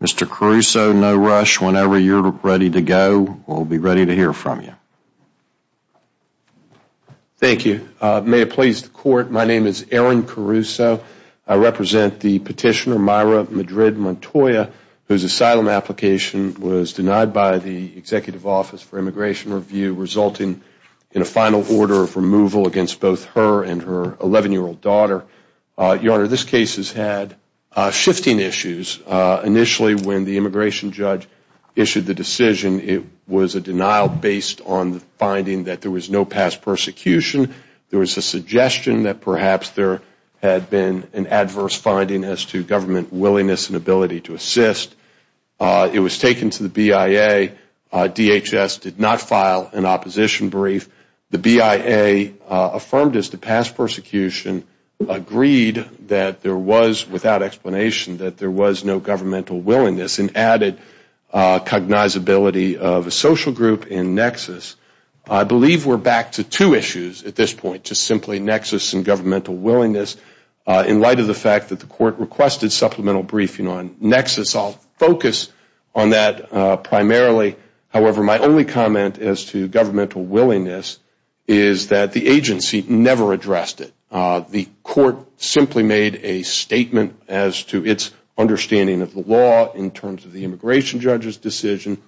Mr. Caruso, no rush. Whenever you are ready to go, we will be ready to hear from you. Thank you. May it please the Court, my name is Aaron Caruso. I represent the petitioner Maira Madrid-Montoya, whose asylum application was denied by the Executive Office for Immigration Review, resulting in a final order of removal against both her and her 11-year-old daughter. Your Honor, this case has had shifting issues. Initially, when the immigration judge issued the decision, it was a denial based on the finding that there was no past persecution. There was a suggestion that perhaps there had been an adverse finding as to government willingness and ability to assist. It was taken to the BIA. DHS did not file an opposition brief. The BIA affirmed as to past persecution, agreed that there was, without explanation, that there was no governmental willingness and added cognizability of a social group in nexus. I believe we are back to two issues at this point, just simply nexus and governmental willingness in light of the fact that the Court requested supplemental briefing on nexus. I will focus on that primarily. However, my only comment as to governmental willingness is that the agency never addressed it. The Court simply made a statement as to its understanding of the law in terms of the immigration judge's decision.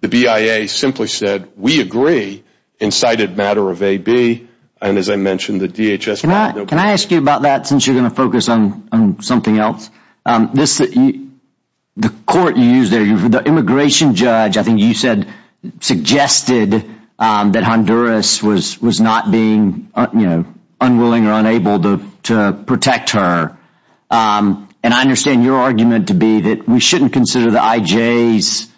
The BIA simply said, we agree in sighted matter of AB. As I mentioned, the DHS asked you about that since you are going to focus on something else. The immigration judge suggested that Honduras was not being unwilling or unable to protect her. I understand your argument to be that we should not consider the IJ's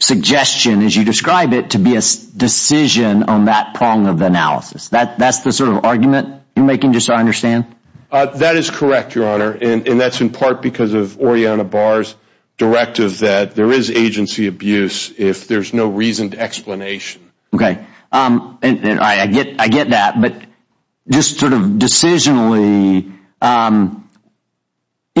suggestion, to be a decision on that prong of analysis. That is the sort of argument you are making? That is correct, Your Honor. That is in part because of Oriana Barr's directive that there is agency abuse if there is no reason to explanation. Okay. I get that. Decisionally,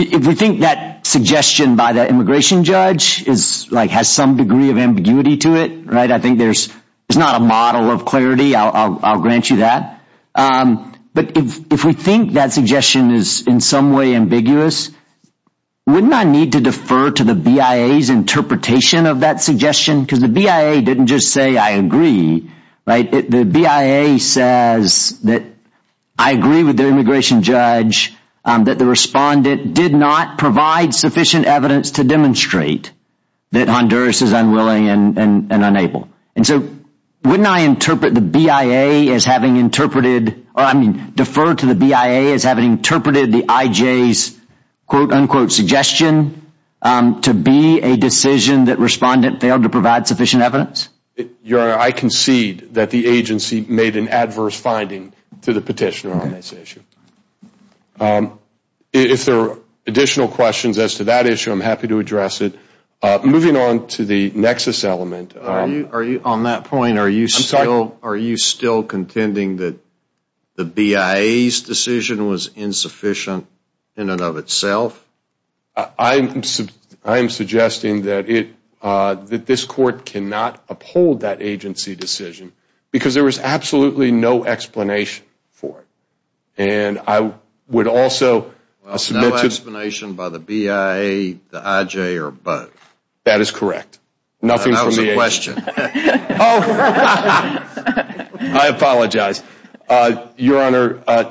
if we think that suggestion by the immigration judge has some degree of ambiguity to it, it is not a model of clarity. I will grant you that. If we think that suggestion is in some way ambiguous, wouldn't I need to defer to the BIA's interpretation of that suggestion? The BIA did not provide sufficient evidence to demonstrate that Honduras is unwilling and unable. Wouldn't I defer to the BIA as having interpreted the IJ's suggestion to be a decision that respondent failed to provide sufficient evidence? Your Honor, I concede that the agency made an If there are additional questions as to that issue, I am happy to address it. Moving on to the nexus element, are you still contending that the BIA's decision was insufficient in and of itself? I am suggesting that this Court cannot uphold that agency decision because there was absolutely no explanation for it. I would also submit to the BIA's explanation. Was there no explanation by the BIA, the IJ, or both? That is correct. That was a question. I apologize. Your Honor,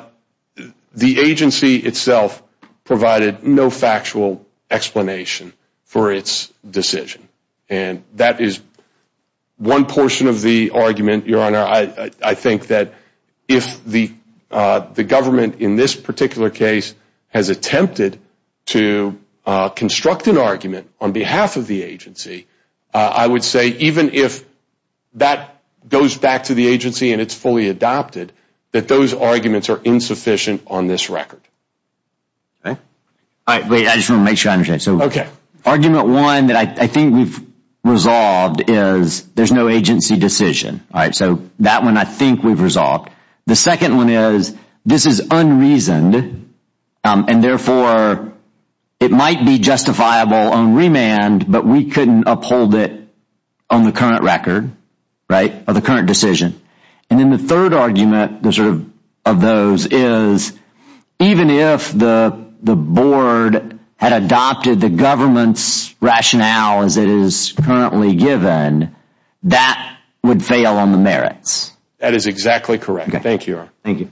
the agency itself provided no factual explanation for its decision. That is one portion of the argument. Your Honor, I think that if the government in this particular case has attempted to construct an argument on behalf of the agency, I would say even if that goes back to the agency and it is fully adopted, that those arguments are insufficient on this argument. The second argument is that this is unreasoned and therefore it might be justifiable on remand, but we could not uphold it on the current record or the current decision. The third argument is that even if the board had adopted the government's rationale as it is currently given, that would fail on the merits. That is exactly correct. Thank you, Your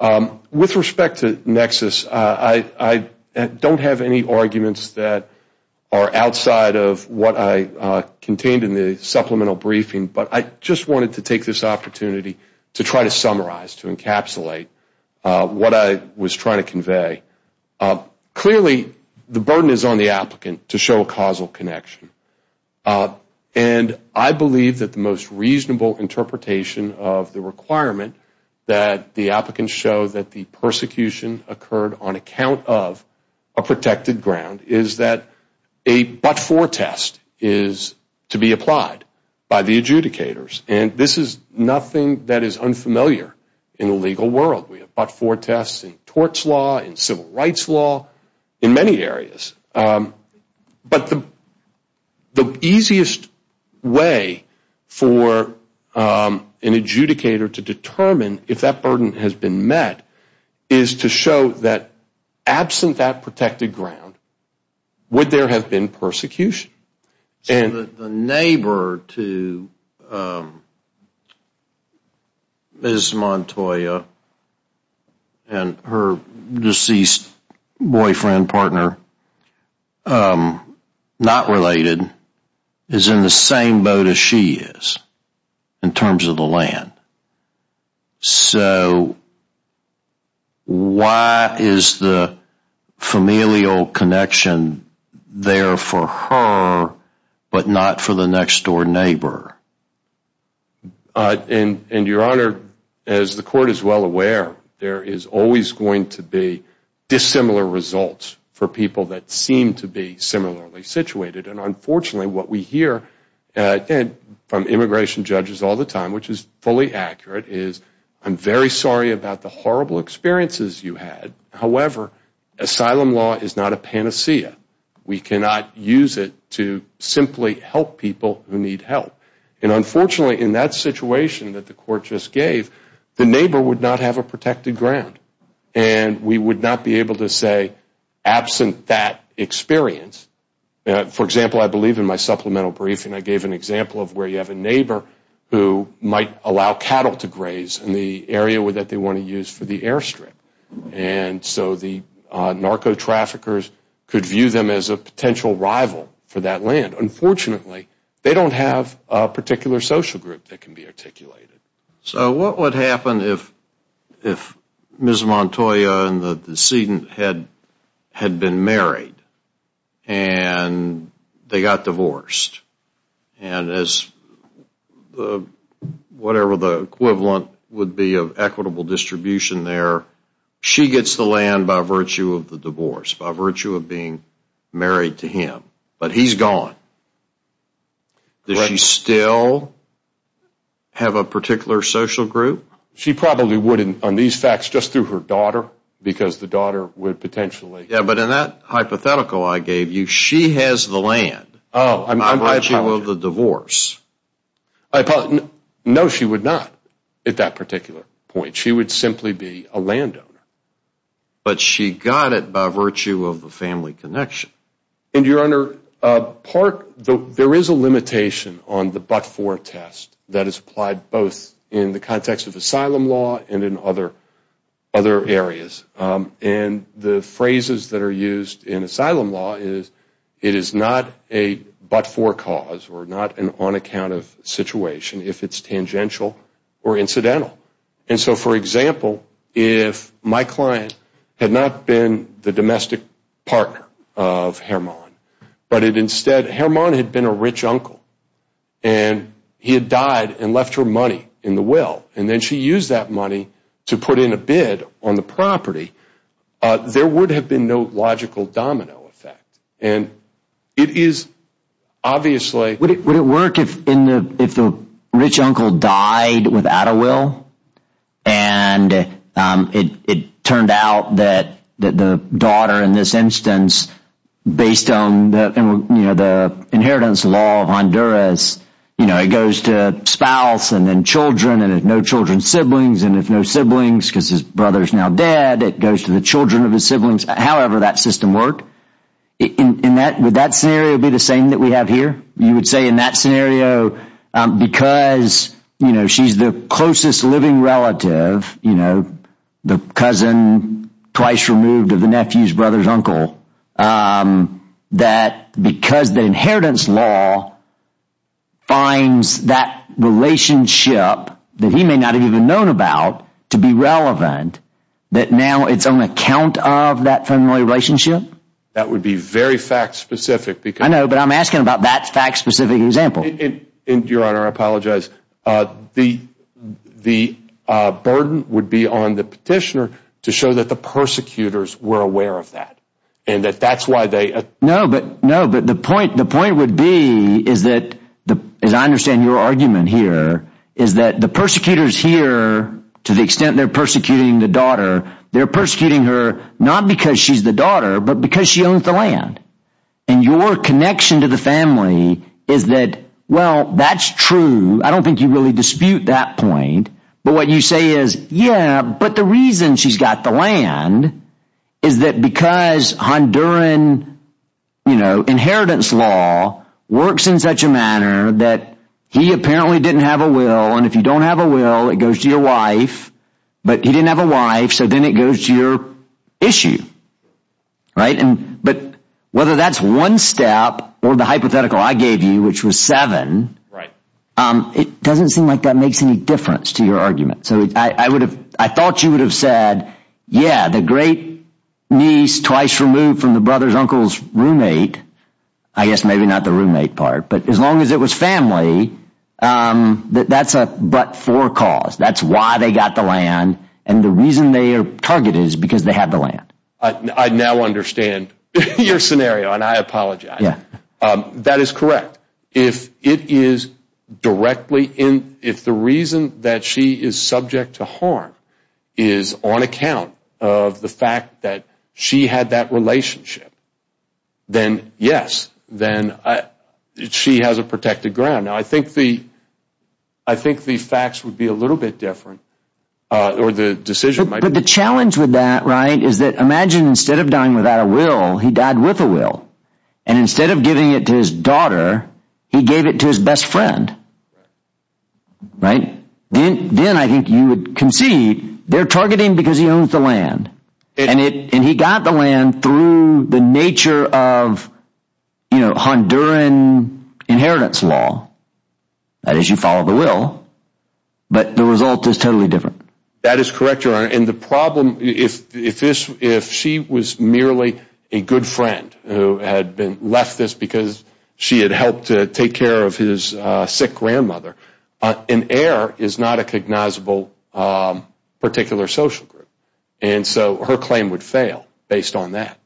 Honor. With respect to Nexus, I do not have any arguments that are outside of what I contained in the supplemental briefing, but I just wanted to take this opportunity to try to summarize, to encapsulate what I was trying to convey. Clearly, the burden is on the applicant to show a causal connection. I believe that the most reasonable interpretation of the requirement that the applicants show that the persecution occurred on account of a protected ground is that a but-for test is to be applied by the adjudicators. This is nothing that is unfamiliar in the legal world. We have but-for tests in torts law, in civil rights law, in many areas. The easiest way for an adjudicator to determine if that burden has been met is to show that absent that protected ground, would there have been persecution? The neighbor to Ms. Montoya and her deceased boyfriend, partner, not related, is in the same boat as she is in terms of the land. Why is the familial connection there for her, but not for the next-door neighbor? Your Honor, as the Court is well aware, there is always going to be dissimilar results for people that seem to be similarly situated. Unfortunately, what we hear from immigration judges all the time, which is fully accurate, is I am very sorry about the horrible experiences you had. However, asylum law is not a panacea. We cannot use it to simply help people who need help. Unfortunately, in that situation that the Court just gave, the neighbor would not have a protected ground. We would not be able to say absent that experience. For example, I believe in my supplemental briefing I gave an example of where you have a neighbor who might allow cattle to graze in the area that they want to use for the airstrip. So the narco-traffickers could view them as a potential rival for that land. Unfortunately, they don't have a particular social group that can be articulated. So what would happen if Ms. Montoya and the decedent had been married and they got divorced? Whatever the equivalent would be of equitable distribution there, she gets the land by virtue of the divorce, by virtue of being married to him. But he is gone. Does she still have a particular social group? She probably would on these facts just through her daughter, because the daughter would potentially... But in that hypothetical I gave you, she has the land by virtue of the divorce. No, she would not at that particular point. She would simply be a landowner. But she got it by virtue of the family connection. And your Honor, there is a limitation on the but-for test that is applied both in the context of asylum law and in other areas. And the phrases that are used in asylum law is it is not a but-for cause or not an on-account of situation if it is tangential or incidental. And so, for example, if my client had not been the domestic partner of Herman, but instead Herman had been a rich uncle, and he had died and left her money in the will, and then she used that money to put in a bid on the property, there would have been no logical domino effect. And it is obviously... Would it work if the rich uncle died without a will, and it turned out that the daughter in this instance, based on the inheritance law of Honduras, it goes to spouse and then children, and if no children, siblings, and if no siblings because his brother is now dead, it goes to the children of his siblings. However that system worked, would that scenario be the same that we have here? You would say in that scenario, because she is the closest living relative, you know, the cousin twice removed of the nephew's brother's uncle, that because the inheritance law finds that relationship that he may not have even known about to be relevant, that now it is on account of that family relationship? That would be very fact-specific because... I know, but I am asking about that fact-specific example. Your Honor, I apologize. The burden would be on the petitioner to show that the persecutors were aware of that, and that is why they... No, but the point would be, as I understand your argument here, is that the persecutors here, to the extent they are persecuting the daughter, they are persecuting her not because she is the daughter, but because she owns the land. And your connection to the family is that, well, that's true. I don't think you really dispute that point. But what you say is, yeah, but the reason she's got the land is that because Honduran, you know, inheritance law works in such a manner that he apparently didn't have a will, and if you don't have a will, it goes to your wife, but he didn't have a wife, so then it goes to your issue. Right? But whether that's one step or the hypothetical I gave you, which was seven, it doesn't seem like that makes any difference to your argument. So I thought you would have said, yeah, the great niece, twice removed from the brother's uncle's roommate, I guess maybe not the roommate part, but as long as it was family, that's but for cause. That's why they got the land, and the reason they are targeted is because they had the land. I now understand your scenario, and I apologize. That is correct. If it is directly in, if the reason that she is subject to harm is on account of the fact that she had that relationship, then yes, then she has a protected ground. Now, I think the facts would be a little bit different, or the decision might be. The challenge with that, right, is that imagine instead of dying without a will, he died with a will, and instead of giving it to his daughter, he gave it to his best friend. Right? Then I think you would concede they're targeting because he owns the land, and he got the land through the nature of, you know, Honduran inheritance law. That is, you follow the will, but the result is totally different. That is correct, Your Honor, and the problem, if she was merely a good friend who had been, left this because she had helped to take care of his sick grandmother, an heir is not a cognizable particular social group, and so her claim would fail based on that.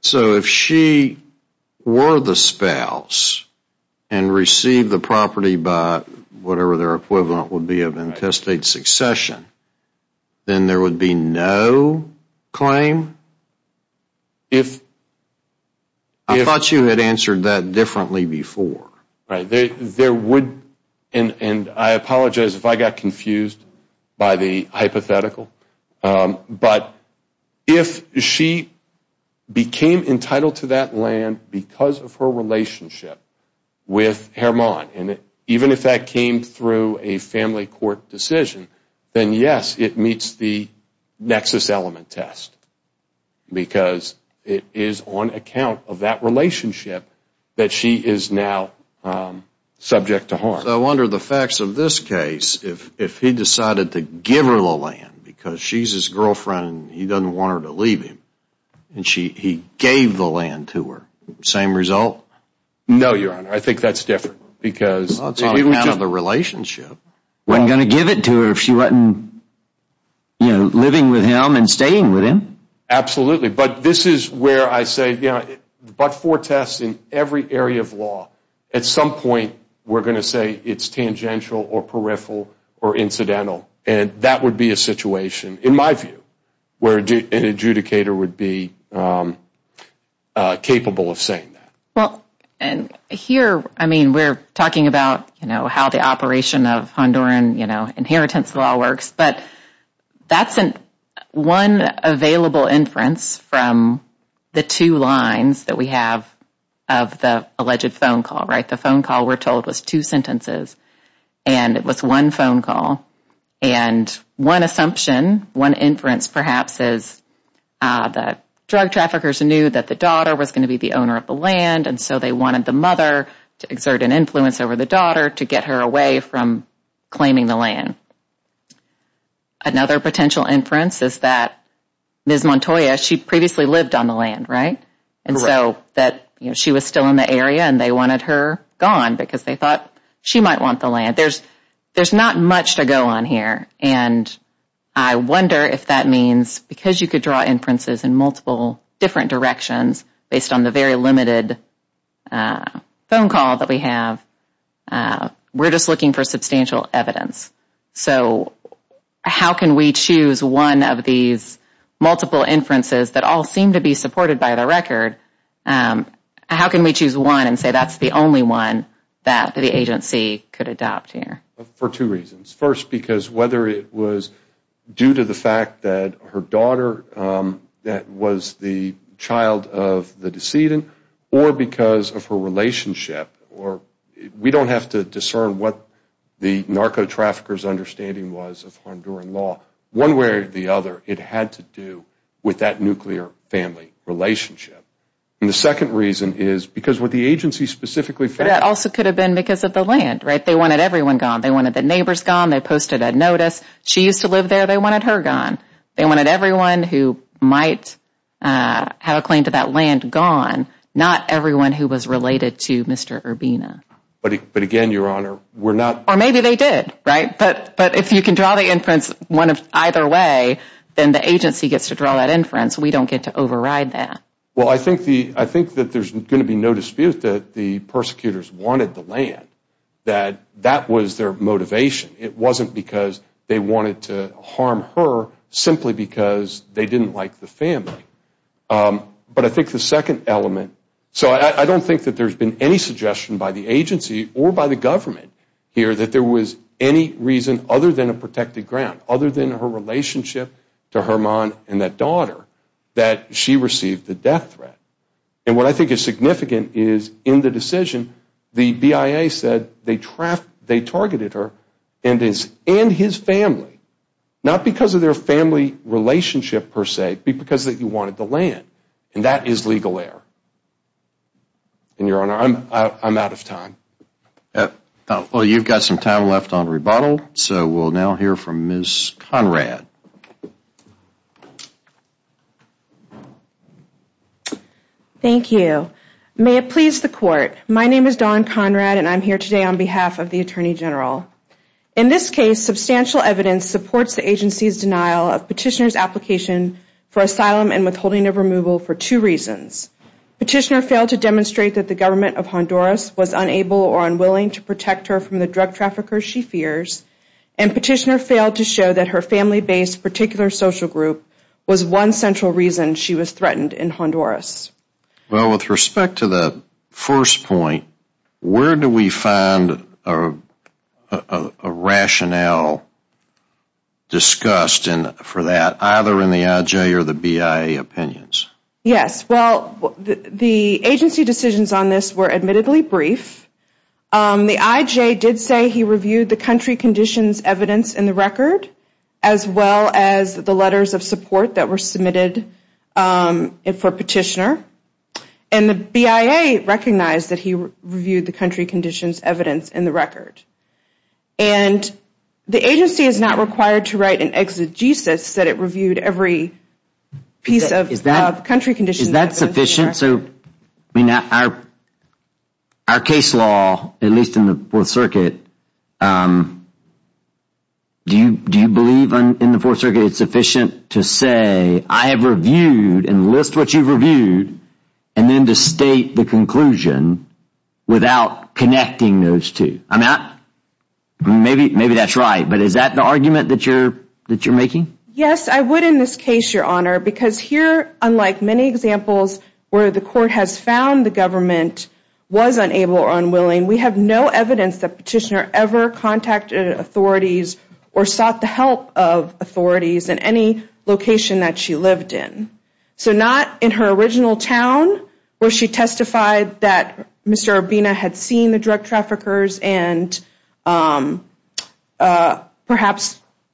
So if she were the spouse and received the property by whatever their equivalent would be of intestate succession, then there would be no claim? I thought you had answered that differently before. There would, and I apologize if I got confused by the hypothetical, but if she became entitled to that land because of her relationship with Hermon, and even if that came through a family court decision, then yes, it meets the nexus element test, because it is on account of that relationship that she is now subject to harm. So under the facts of this case, if he decided to give her the land because she's his girlfriend and he doesn't want her to leave him, and he gave the land to her, same result? No, Your Honor, I think that's different. It's on account of the relationship. Wasn't going to give it to her if she wasn't living with him and staying with him. Absolutely, but this is where I say, but for tests in every area of law, at some point, we're going to say it's tangential or peripheral or incidental, and that would be a situation, in my view, where an adjudicator would be capable of saying that. Well, and here, I mean, we're talking about, you know, how the operation of Honduran, you know, inheritance law works, but that's one available inference from the two lines that we have of the alleged phone call, right? The phone call, we're told, was two sentences, and it was one phone call, and one assumption, one inference, perhaps, is that drug traffickers knew that the daughter was going to be the owner of the land, and so they wanted the mother to exert an influence over the daughter to get her away from claiming the land. Another potential inference is that Ms. Montoya, she previously lived on the land, right? Correct. And so that, you know, she was still in the area, and they wanted her gone because they thought she might want the land. There's not much to go on here, and I wonder if that means, because you could draw inferences in multiple different directions based on the very limited phone call that we have, we're just looking for substantial evidence. So how can we choose one of these multiple inferences that all seem to be supported by the record? How can we choose one and say that's the only one that the agency could adopt here? For two reasons. First, because whether it was due to the fact that her daughter that was the child of the decedent, or because of her relationship, or we don't have to discern what the narco traffickers' understanding was of Honduran law. One way or the other, it had to do with that nuclear family relationship. And the second reason is because what the agency specifically thought... That also could have been because of the land, right? They wanted everyone gone. They wanted the neighbors gone. They posted a notice. She used to live there. They wanted her gone. They wanted everyone who might have a claim to that land gone, not everyone who was related to Mr. Urbina. But again, Your Honor, we're not... Or maybe they did, right? But if you can draw the inference either way, then the agency gets to draw that inference. We don't get to override that. Well, I think that there's going to be no dispute that the persecutors wanted the land. That that was their motivation. It wasn't because they wanted to harm her simply because they didn't like the family. But I think the second element... So I don't think that there's been any suggestion by the agency or by the government here that there was any reason other than a protected ground, other than her relationship to Herman and that daughter, that she received the death threat. And what I think is significant is in the decision, the BIA said they targeted her and his family, not because of their family relationship per se, but because they wanted the land. And that is legal error. And Your Honor, I'm out of time. Well, you've got some time left on rebuttal. So we'll now hear from Ms. Conrad. Thank you. May it please the Court. My name is Dawn Conrad, and I'm here today on behalf of the Attorney General. In this case, substantial evidence supports the agency's denial of Petitioner's application for asylum and withholding of removal for two reasons. Petitioner failed to demonstrate that the government of Honduras was unable or unwilling to protect her from the drug traffickers she fears, and Petitioner failed to show that her family-based particular social group was one central reason she was threatened in Honduras. Well, with respect to the first point, where do we find a rationale discussed for that, either in the IJ or the BIA opinions? Yes. Well, the agency decisions on this were admittedly brief. The IJ did say he reviewed the country conditions evidence in the record, as well as the letters of support that were submitted for Petitioner, and the BIA recognized that he reviewed the country conditions evidence in the record. And the agency is not required to write an exegesis that it reviewed every piece of country conditions evidence in the record. Is that sufficient? So, I mean, our case law, at least in the Fourth Circuit, do you believe in the Fourth to say, I have reviewed, and list what you've reviewed, and then to state the conclusion without connecting those two? Maybe that's right, but is that the argument that you're making? Yes, I would in this case, Your Honor, because here, unlike many examples where the court has found the government was unable or unwilling, we have no evidence that Petitioner ever contacted authorities or sought the help of authorities in any location that she lived in. So not in her original town, where she testified that Mr. Urbina had seen the drug traffickers, and perhaps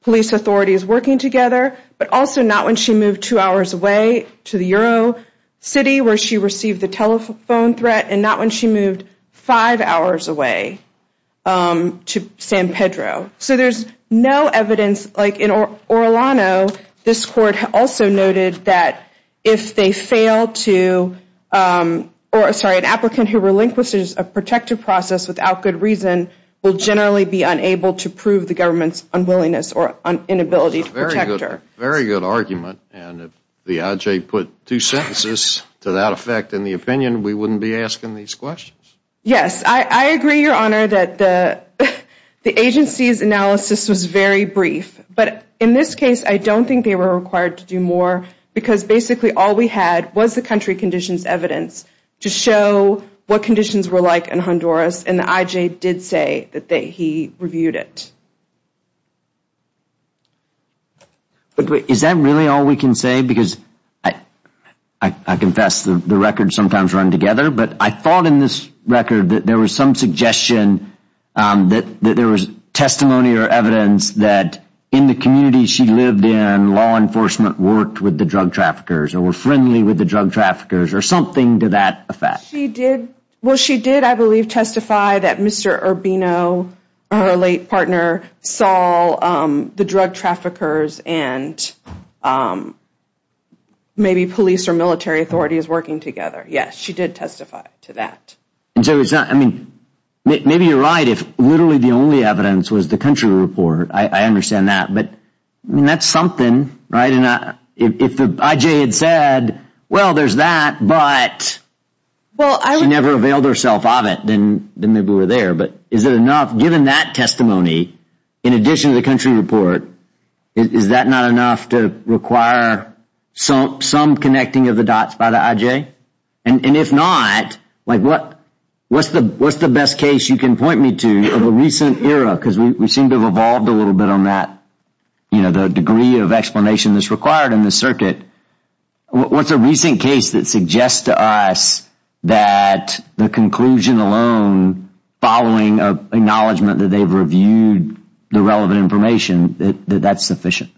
police authorities working together, but also not when she moved two hours away to the Euro City, where she received the telephone threat, and not when she moved five hours away to San Pedro. So there's no evidence. Like in Orlano, this court also noted that if they fail to, or sorry, an applicant who relinquishes a protective process without good reason will generally be unable to prove the government's unwillingness or inability to protect her. Very good argument, and if the IJ put two sentences to that effect in the opinion, we wouldn't be asking these questions. Yes, I agree, Your Honor, that the agency's analysis was very brief, but in this case, I don't think they were required to do more because basically all we had was the country conditions evidence to show what conditions were like in Honduras, and the IJ did say that he reviewed it. Is that really all we can say? Because I confess the records sometimes run together, but I thought in this record that there was some suggestion that there was testimony or evidence that in the community she lived in, law enforcement worked with the drug traffickers, or were friendly with the drug traffickers, or something to that effect. She did. Well, she did, I believe, testify that Mr. Urbino, her late partner, saw the drug traffickers and maybe police or military authorities working together. Yes, she did testify to that. And so it's not, I mean, maybe you're right if literally the only evidence was the country report. I understand that, but that's something, right? And if the IJ had said, well, there's that, but she never availed herself of it, then maybe we're there. Given that testimony, in addition to the country report, is that not enough to require some connecting of the dots by the IJ? And if not, what's the best case you can point me to of a recent era? Because we seem to have evolved a little bit on that, the degree of explanation that's required in the circuit. What's a recent case that suggests to us that the conclusion alone, following an acknowledgement that they've reviewed the relevant information, that that's sufficient?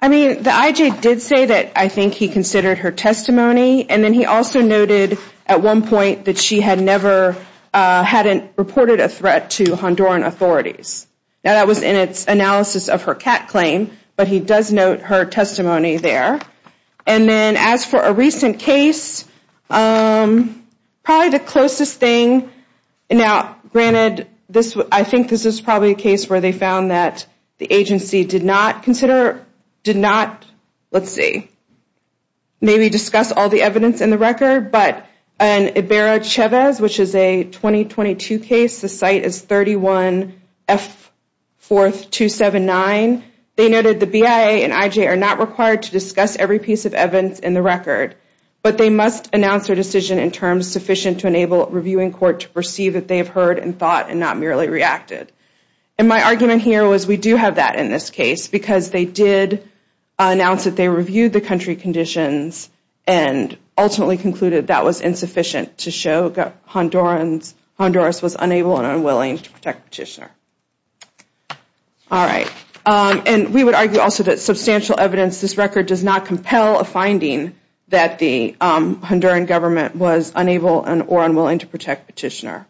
I mean, the IJ did say that I think he considered her testimony, and then he also noted at one point that she had never, hadn't reported a threat to Honduran authorities. Now, that was in its analysis of her cat claim, but he does note her testimony there. And then as for a recent case, probably the closest thing, now, granted, this, I think this is probably a case where they found that the agency did not consider, did not, let's see, maybe discuss all the evidence in the record, but an Ibarra-Chavez, which is a 2022 case, the site is 31F4279, they noted the BIA and IJ are not required to discuss every piece of evidence in the record, but they must announce their decision in terms sufficient to enable a reviewing court to perceive that they have heard and thought and not merely reacted. And my argument here was we do have that in this case, because they did announce that they reviewed the country conditions and ultimately concluded that was insufficient to show Hondurans, Honduras was unable and unwilling to protect Petitioner. All right. And we would argue also that substantial evidence, this record does not compel a finding that the Honduran government was unable and or unwilling to protect Petitioner.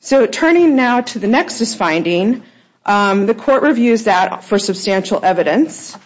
So turning now to the nexus finding, the court reviews that for substantial evidence.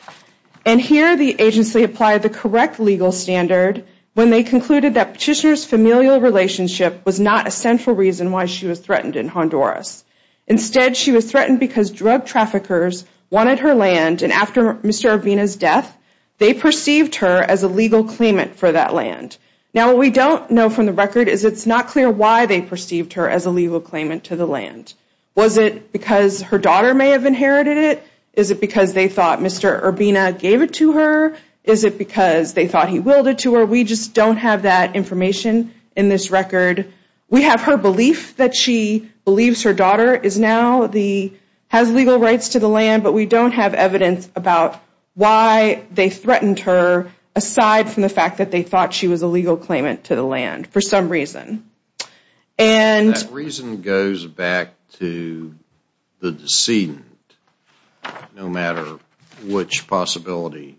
And here the agency applied the correct legal standard when they concluded that Petitioner's familial relationship was not a central reason why she was threatened in Honduras. Instead, she was threatened because drug traffickers wanted her land. And after Mr. Urbina's death, they perceived her as a legal claimant for that land. Now, what we don't know from the record is it's not clear why they perceived her as a legal claimant to the land. Was it because her daughter may have inherited it? Is it because they thought Mr. Urbina gave it to her? Is it because they thought he willed it to her? We just don't have that information in this record. We have her belief that she believes her daughter is now the, has legal rights to the land, but we don't have evidence about why they threatened her aside from the fact that they thought she was a legal claimant to the land for some reason. And that reason goes back to the decedent, no matter which possibility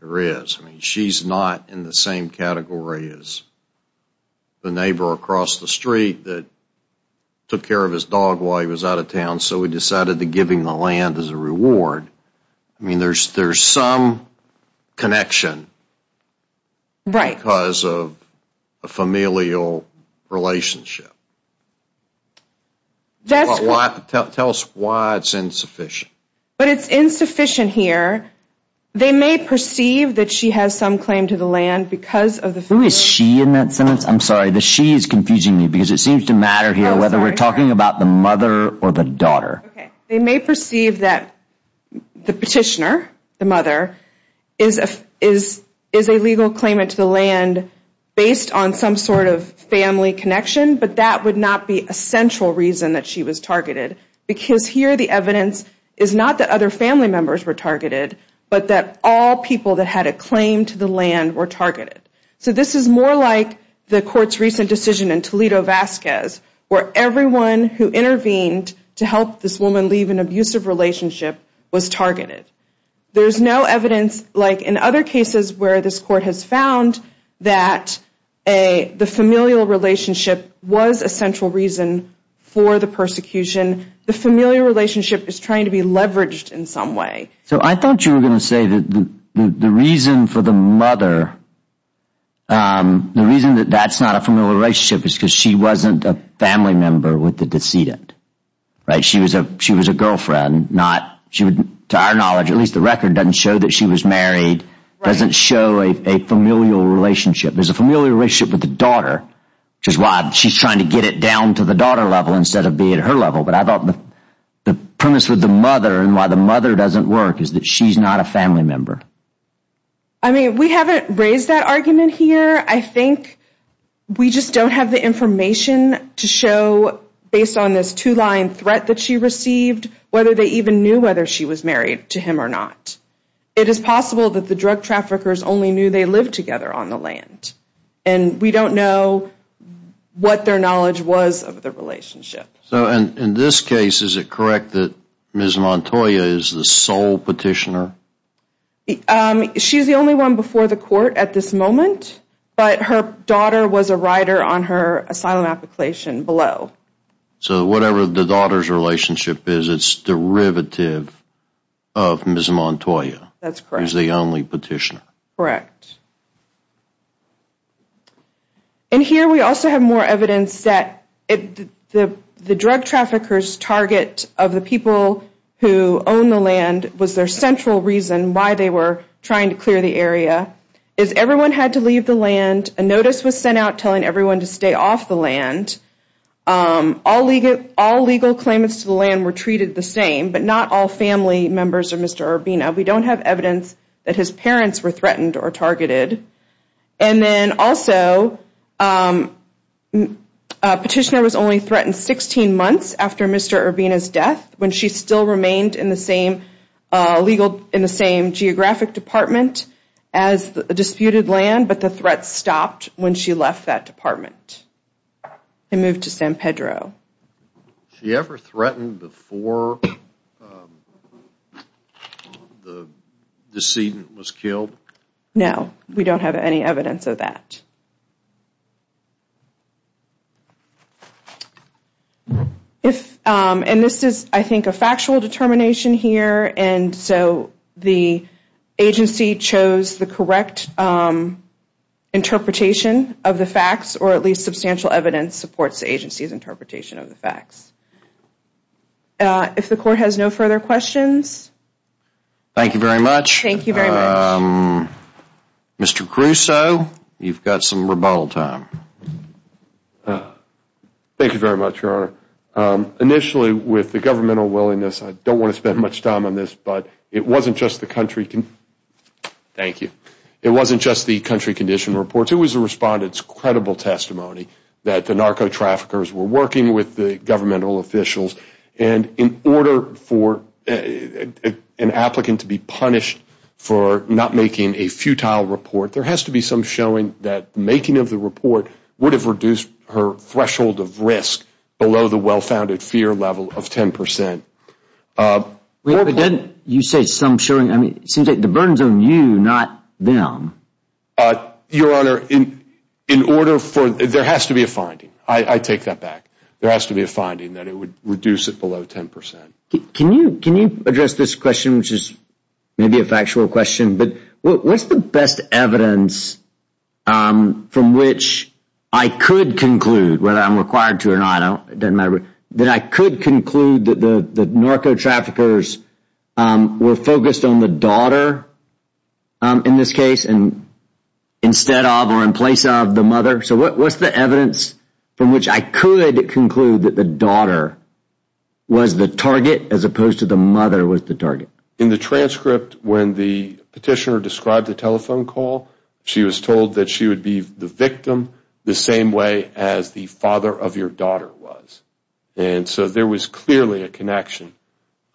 there is. She's not in the same category as the neighbor across the street that took care of his dog while he was out of town, so he decided to give him the land as a reward. I mean, there's some connection because of a familial relationship. Tell us why it's insufficient. But it's insufficient here. They may perceive that she has some claim to the land because of the... Who is she in that sentence? I'm sorry, the she is confusing me because it seems to matter here whether we're talking about the mother or the daughter. They may perceive that the petitioner, the mother, is a legal claimant to the land based on some sort of family connection, but that would not be a central reason that she was but that all people that had a claim to the land were targeted. So this is more like the court's recent decision in Toledo-Vasquez, where everyone who intervened to help this woman leave an abusive relationship was targeted. There's no evidence, like in other cases where this court has found that the familial relationship was a central reason for the persecution. The familial relationship is trying to be leveraged in some way. So I thought you were going to say that the reason for the mother, the reason that that's not a familial relationship is because she wasn't a family member with the decedent. Right. She was a she was a girlfriend, not she would, to our knowledge, at least the record doesn't show that she was married, doesn't show a familial relationship. There's a familial relationship with the daughter, which is why she's trying to get it down to the daughter level instead of being at her level. But I thought the premise with the mother and why the mother doesn't work is that she's not a family member. I mean, we haven't raised that argument here. I think we just don't have the information to show based on this two line threat that she received, whether they even knew whether she was married to him or not. It is possible that the drug traffickers only knew they lived together on the land and we don't know what their knowledge was of the relationship. So in this case, is it correct that Ms. Montoya is the sole petitioner? She's the only one before the court at this moment, but her daughter was a rider on her asylum application below. So whatever the daughter's relationship is, it's derivative of Ms. Montoya. That's correct. Is the only petitioner. Correct. And here we also have more evidence that the drug traffickers target of the people who own the land was their central reason why they were trying to clear the area. Is everyone had to leave the land? A notice was sent out telling everyone to stay off the land. All legal all legal claimants to the land were treated the same, but not all family members of Mr. Urbina. We don't have evidence that his parents were threatened or targeted. And then also petitioner was only threatened 16 months after Mr. Urbina's death when she still remained in the same legal in the same geographic department as the disputed land, but the threat stopped when she left that department and moved to San Pedro. She ever threatened before the decedent was killed? No, we don't have any evidence of that. If and this is, I think, a factual determination here. And so the agency chose the correct interpretation of the facts, or at least substantial evidence supports the agency's interpretation of the facts. If the court has no further questions. Thank you very much. Thank you very much. Mr. Crusoe, you've got some rebuttal time. Thank you very much, Your Honor. Initially, with the governmental willingness, I don't want to spend much time on this, but it wasn't just the country. Thank you. It wasn't just the country condition reports. It was a respondent's credible testimony that the narco traffickers were working with the report. There has to be some showing that the making of the report would have reduced her threshold of risk below the well-founded fear level of 10%. You said some showing. I mean, it seems like the burden is on you, not them. Your Honor, there has to be a finding. I take that back. There has to be a finding that it would reduce it below 10%. Can you address this question, which is maybe a factual question? What's the best evidence from which I could conclude, whether I'm required to or not, that I could conclude that the narco traffickers were focused on the daughter in this case instead of or in place of the mother? What's the evidence from which I could conclude that the daughter was the target as opposed to the mother was the target? In the transcript, when the petitioner described the telephone call, she was told that she would be the victim the same way as the father of your daughter was. So there was clearly a connection.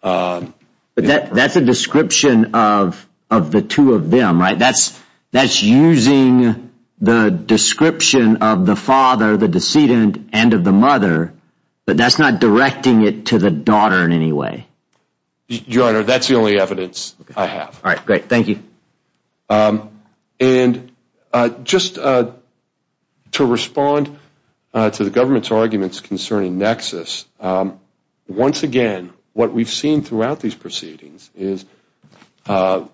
That's a description of the two of them, right? That's using the description of the father, the decedent, and of the mother, but that's not directing it to the daughter in any way. Your Honor, that's the only evidence I have. All right, great. Thank you. And just to respond to the government's arguments concerning Nexus, once again, what we've seen throughout these proceedings is,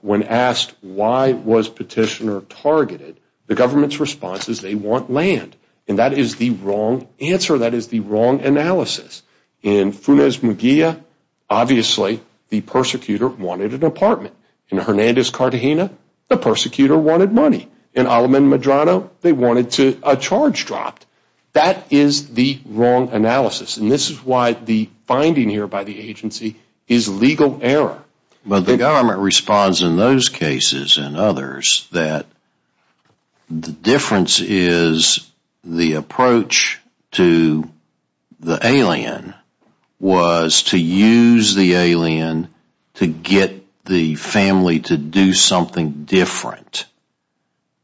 when asked why was petitioner targeted, the government's response is they want land. And that is the wrong answer. That is the wrong analysis. In Funes Muguia, obviously, the persecutor wanted an apartment. In Hernandez Cartagena, the persecutor wanted money. In Alameda Medrano, they wanted a charge dropped. That is the wrong analysis. And this is why the finding here by the agency is legal error. But the government responds in those cases and others that the difference is the approach to the alien was to use the alien to get the family to do something different.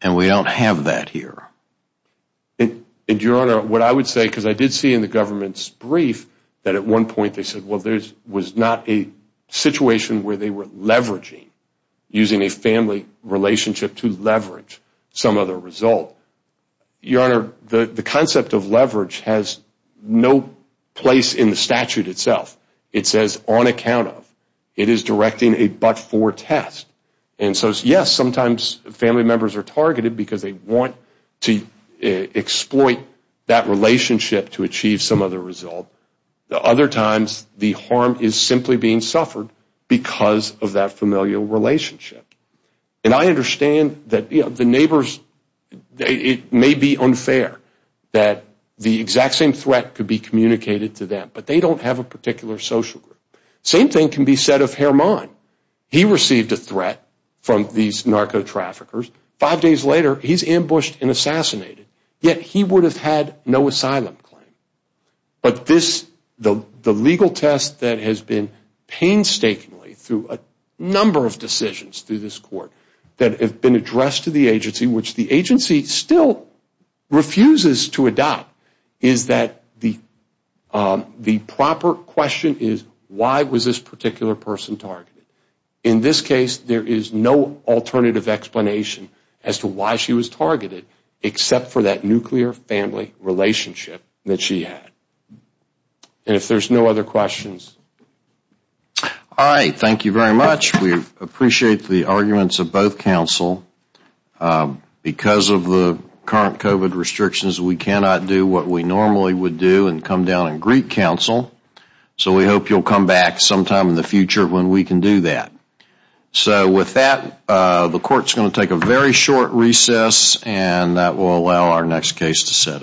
And we don't have that here. And Your Honor, what I would say, because I did see in the government's brief that at one point they said, well, there was not a situation where they were leveraging, using a family relationship to leverage some other result. Your Honor, the concept of leverage has no place in the statute itself. It says on account of. It is directing a but-for test. And so, yes, sometimes family members are targeted because they want to exploit that relationship to achieve some other result. Other times, the harm is simply being suffered because of that familial relationship. And I understand that the neighbors, it may be unfair that the exact same threat could be communicated to them, but they don't have a particular social group. Same thing can be said of Hermann. He received a threat from these narco-traffickers. Five days later, he is ambushed and assassinated. Yet he would have had no asylum claim. But this, the legal test that has been painstakingly through a number of decisions through this court that have been addressed to the agency, which the agency still refuses to adopt, is that the proper question is, why was this particular person targeted? In this case, there is no alternative explanation as to why she was targeted, except for that nuclear family relationship that she had. And if there are no other questions. MR. MCDOWELL. All right. Thank you very much. We appreciate the arguments of both counsel. Because of the current COVID restrictions, we cannot do what we normally would do and come down and greet counsel. So we hope you will come back sometime in the future when we can do that. So with that, the court is going to take a very short recess. And that will allow our next case to set up.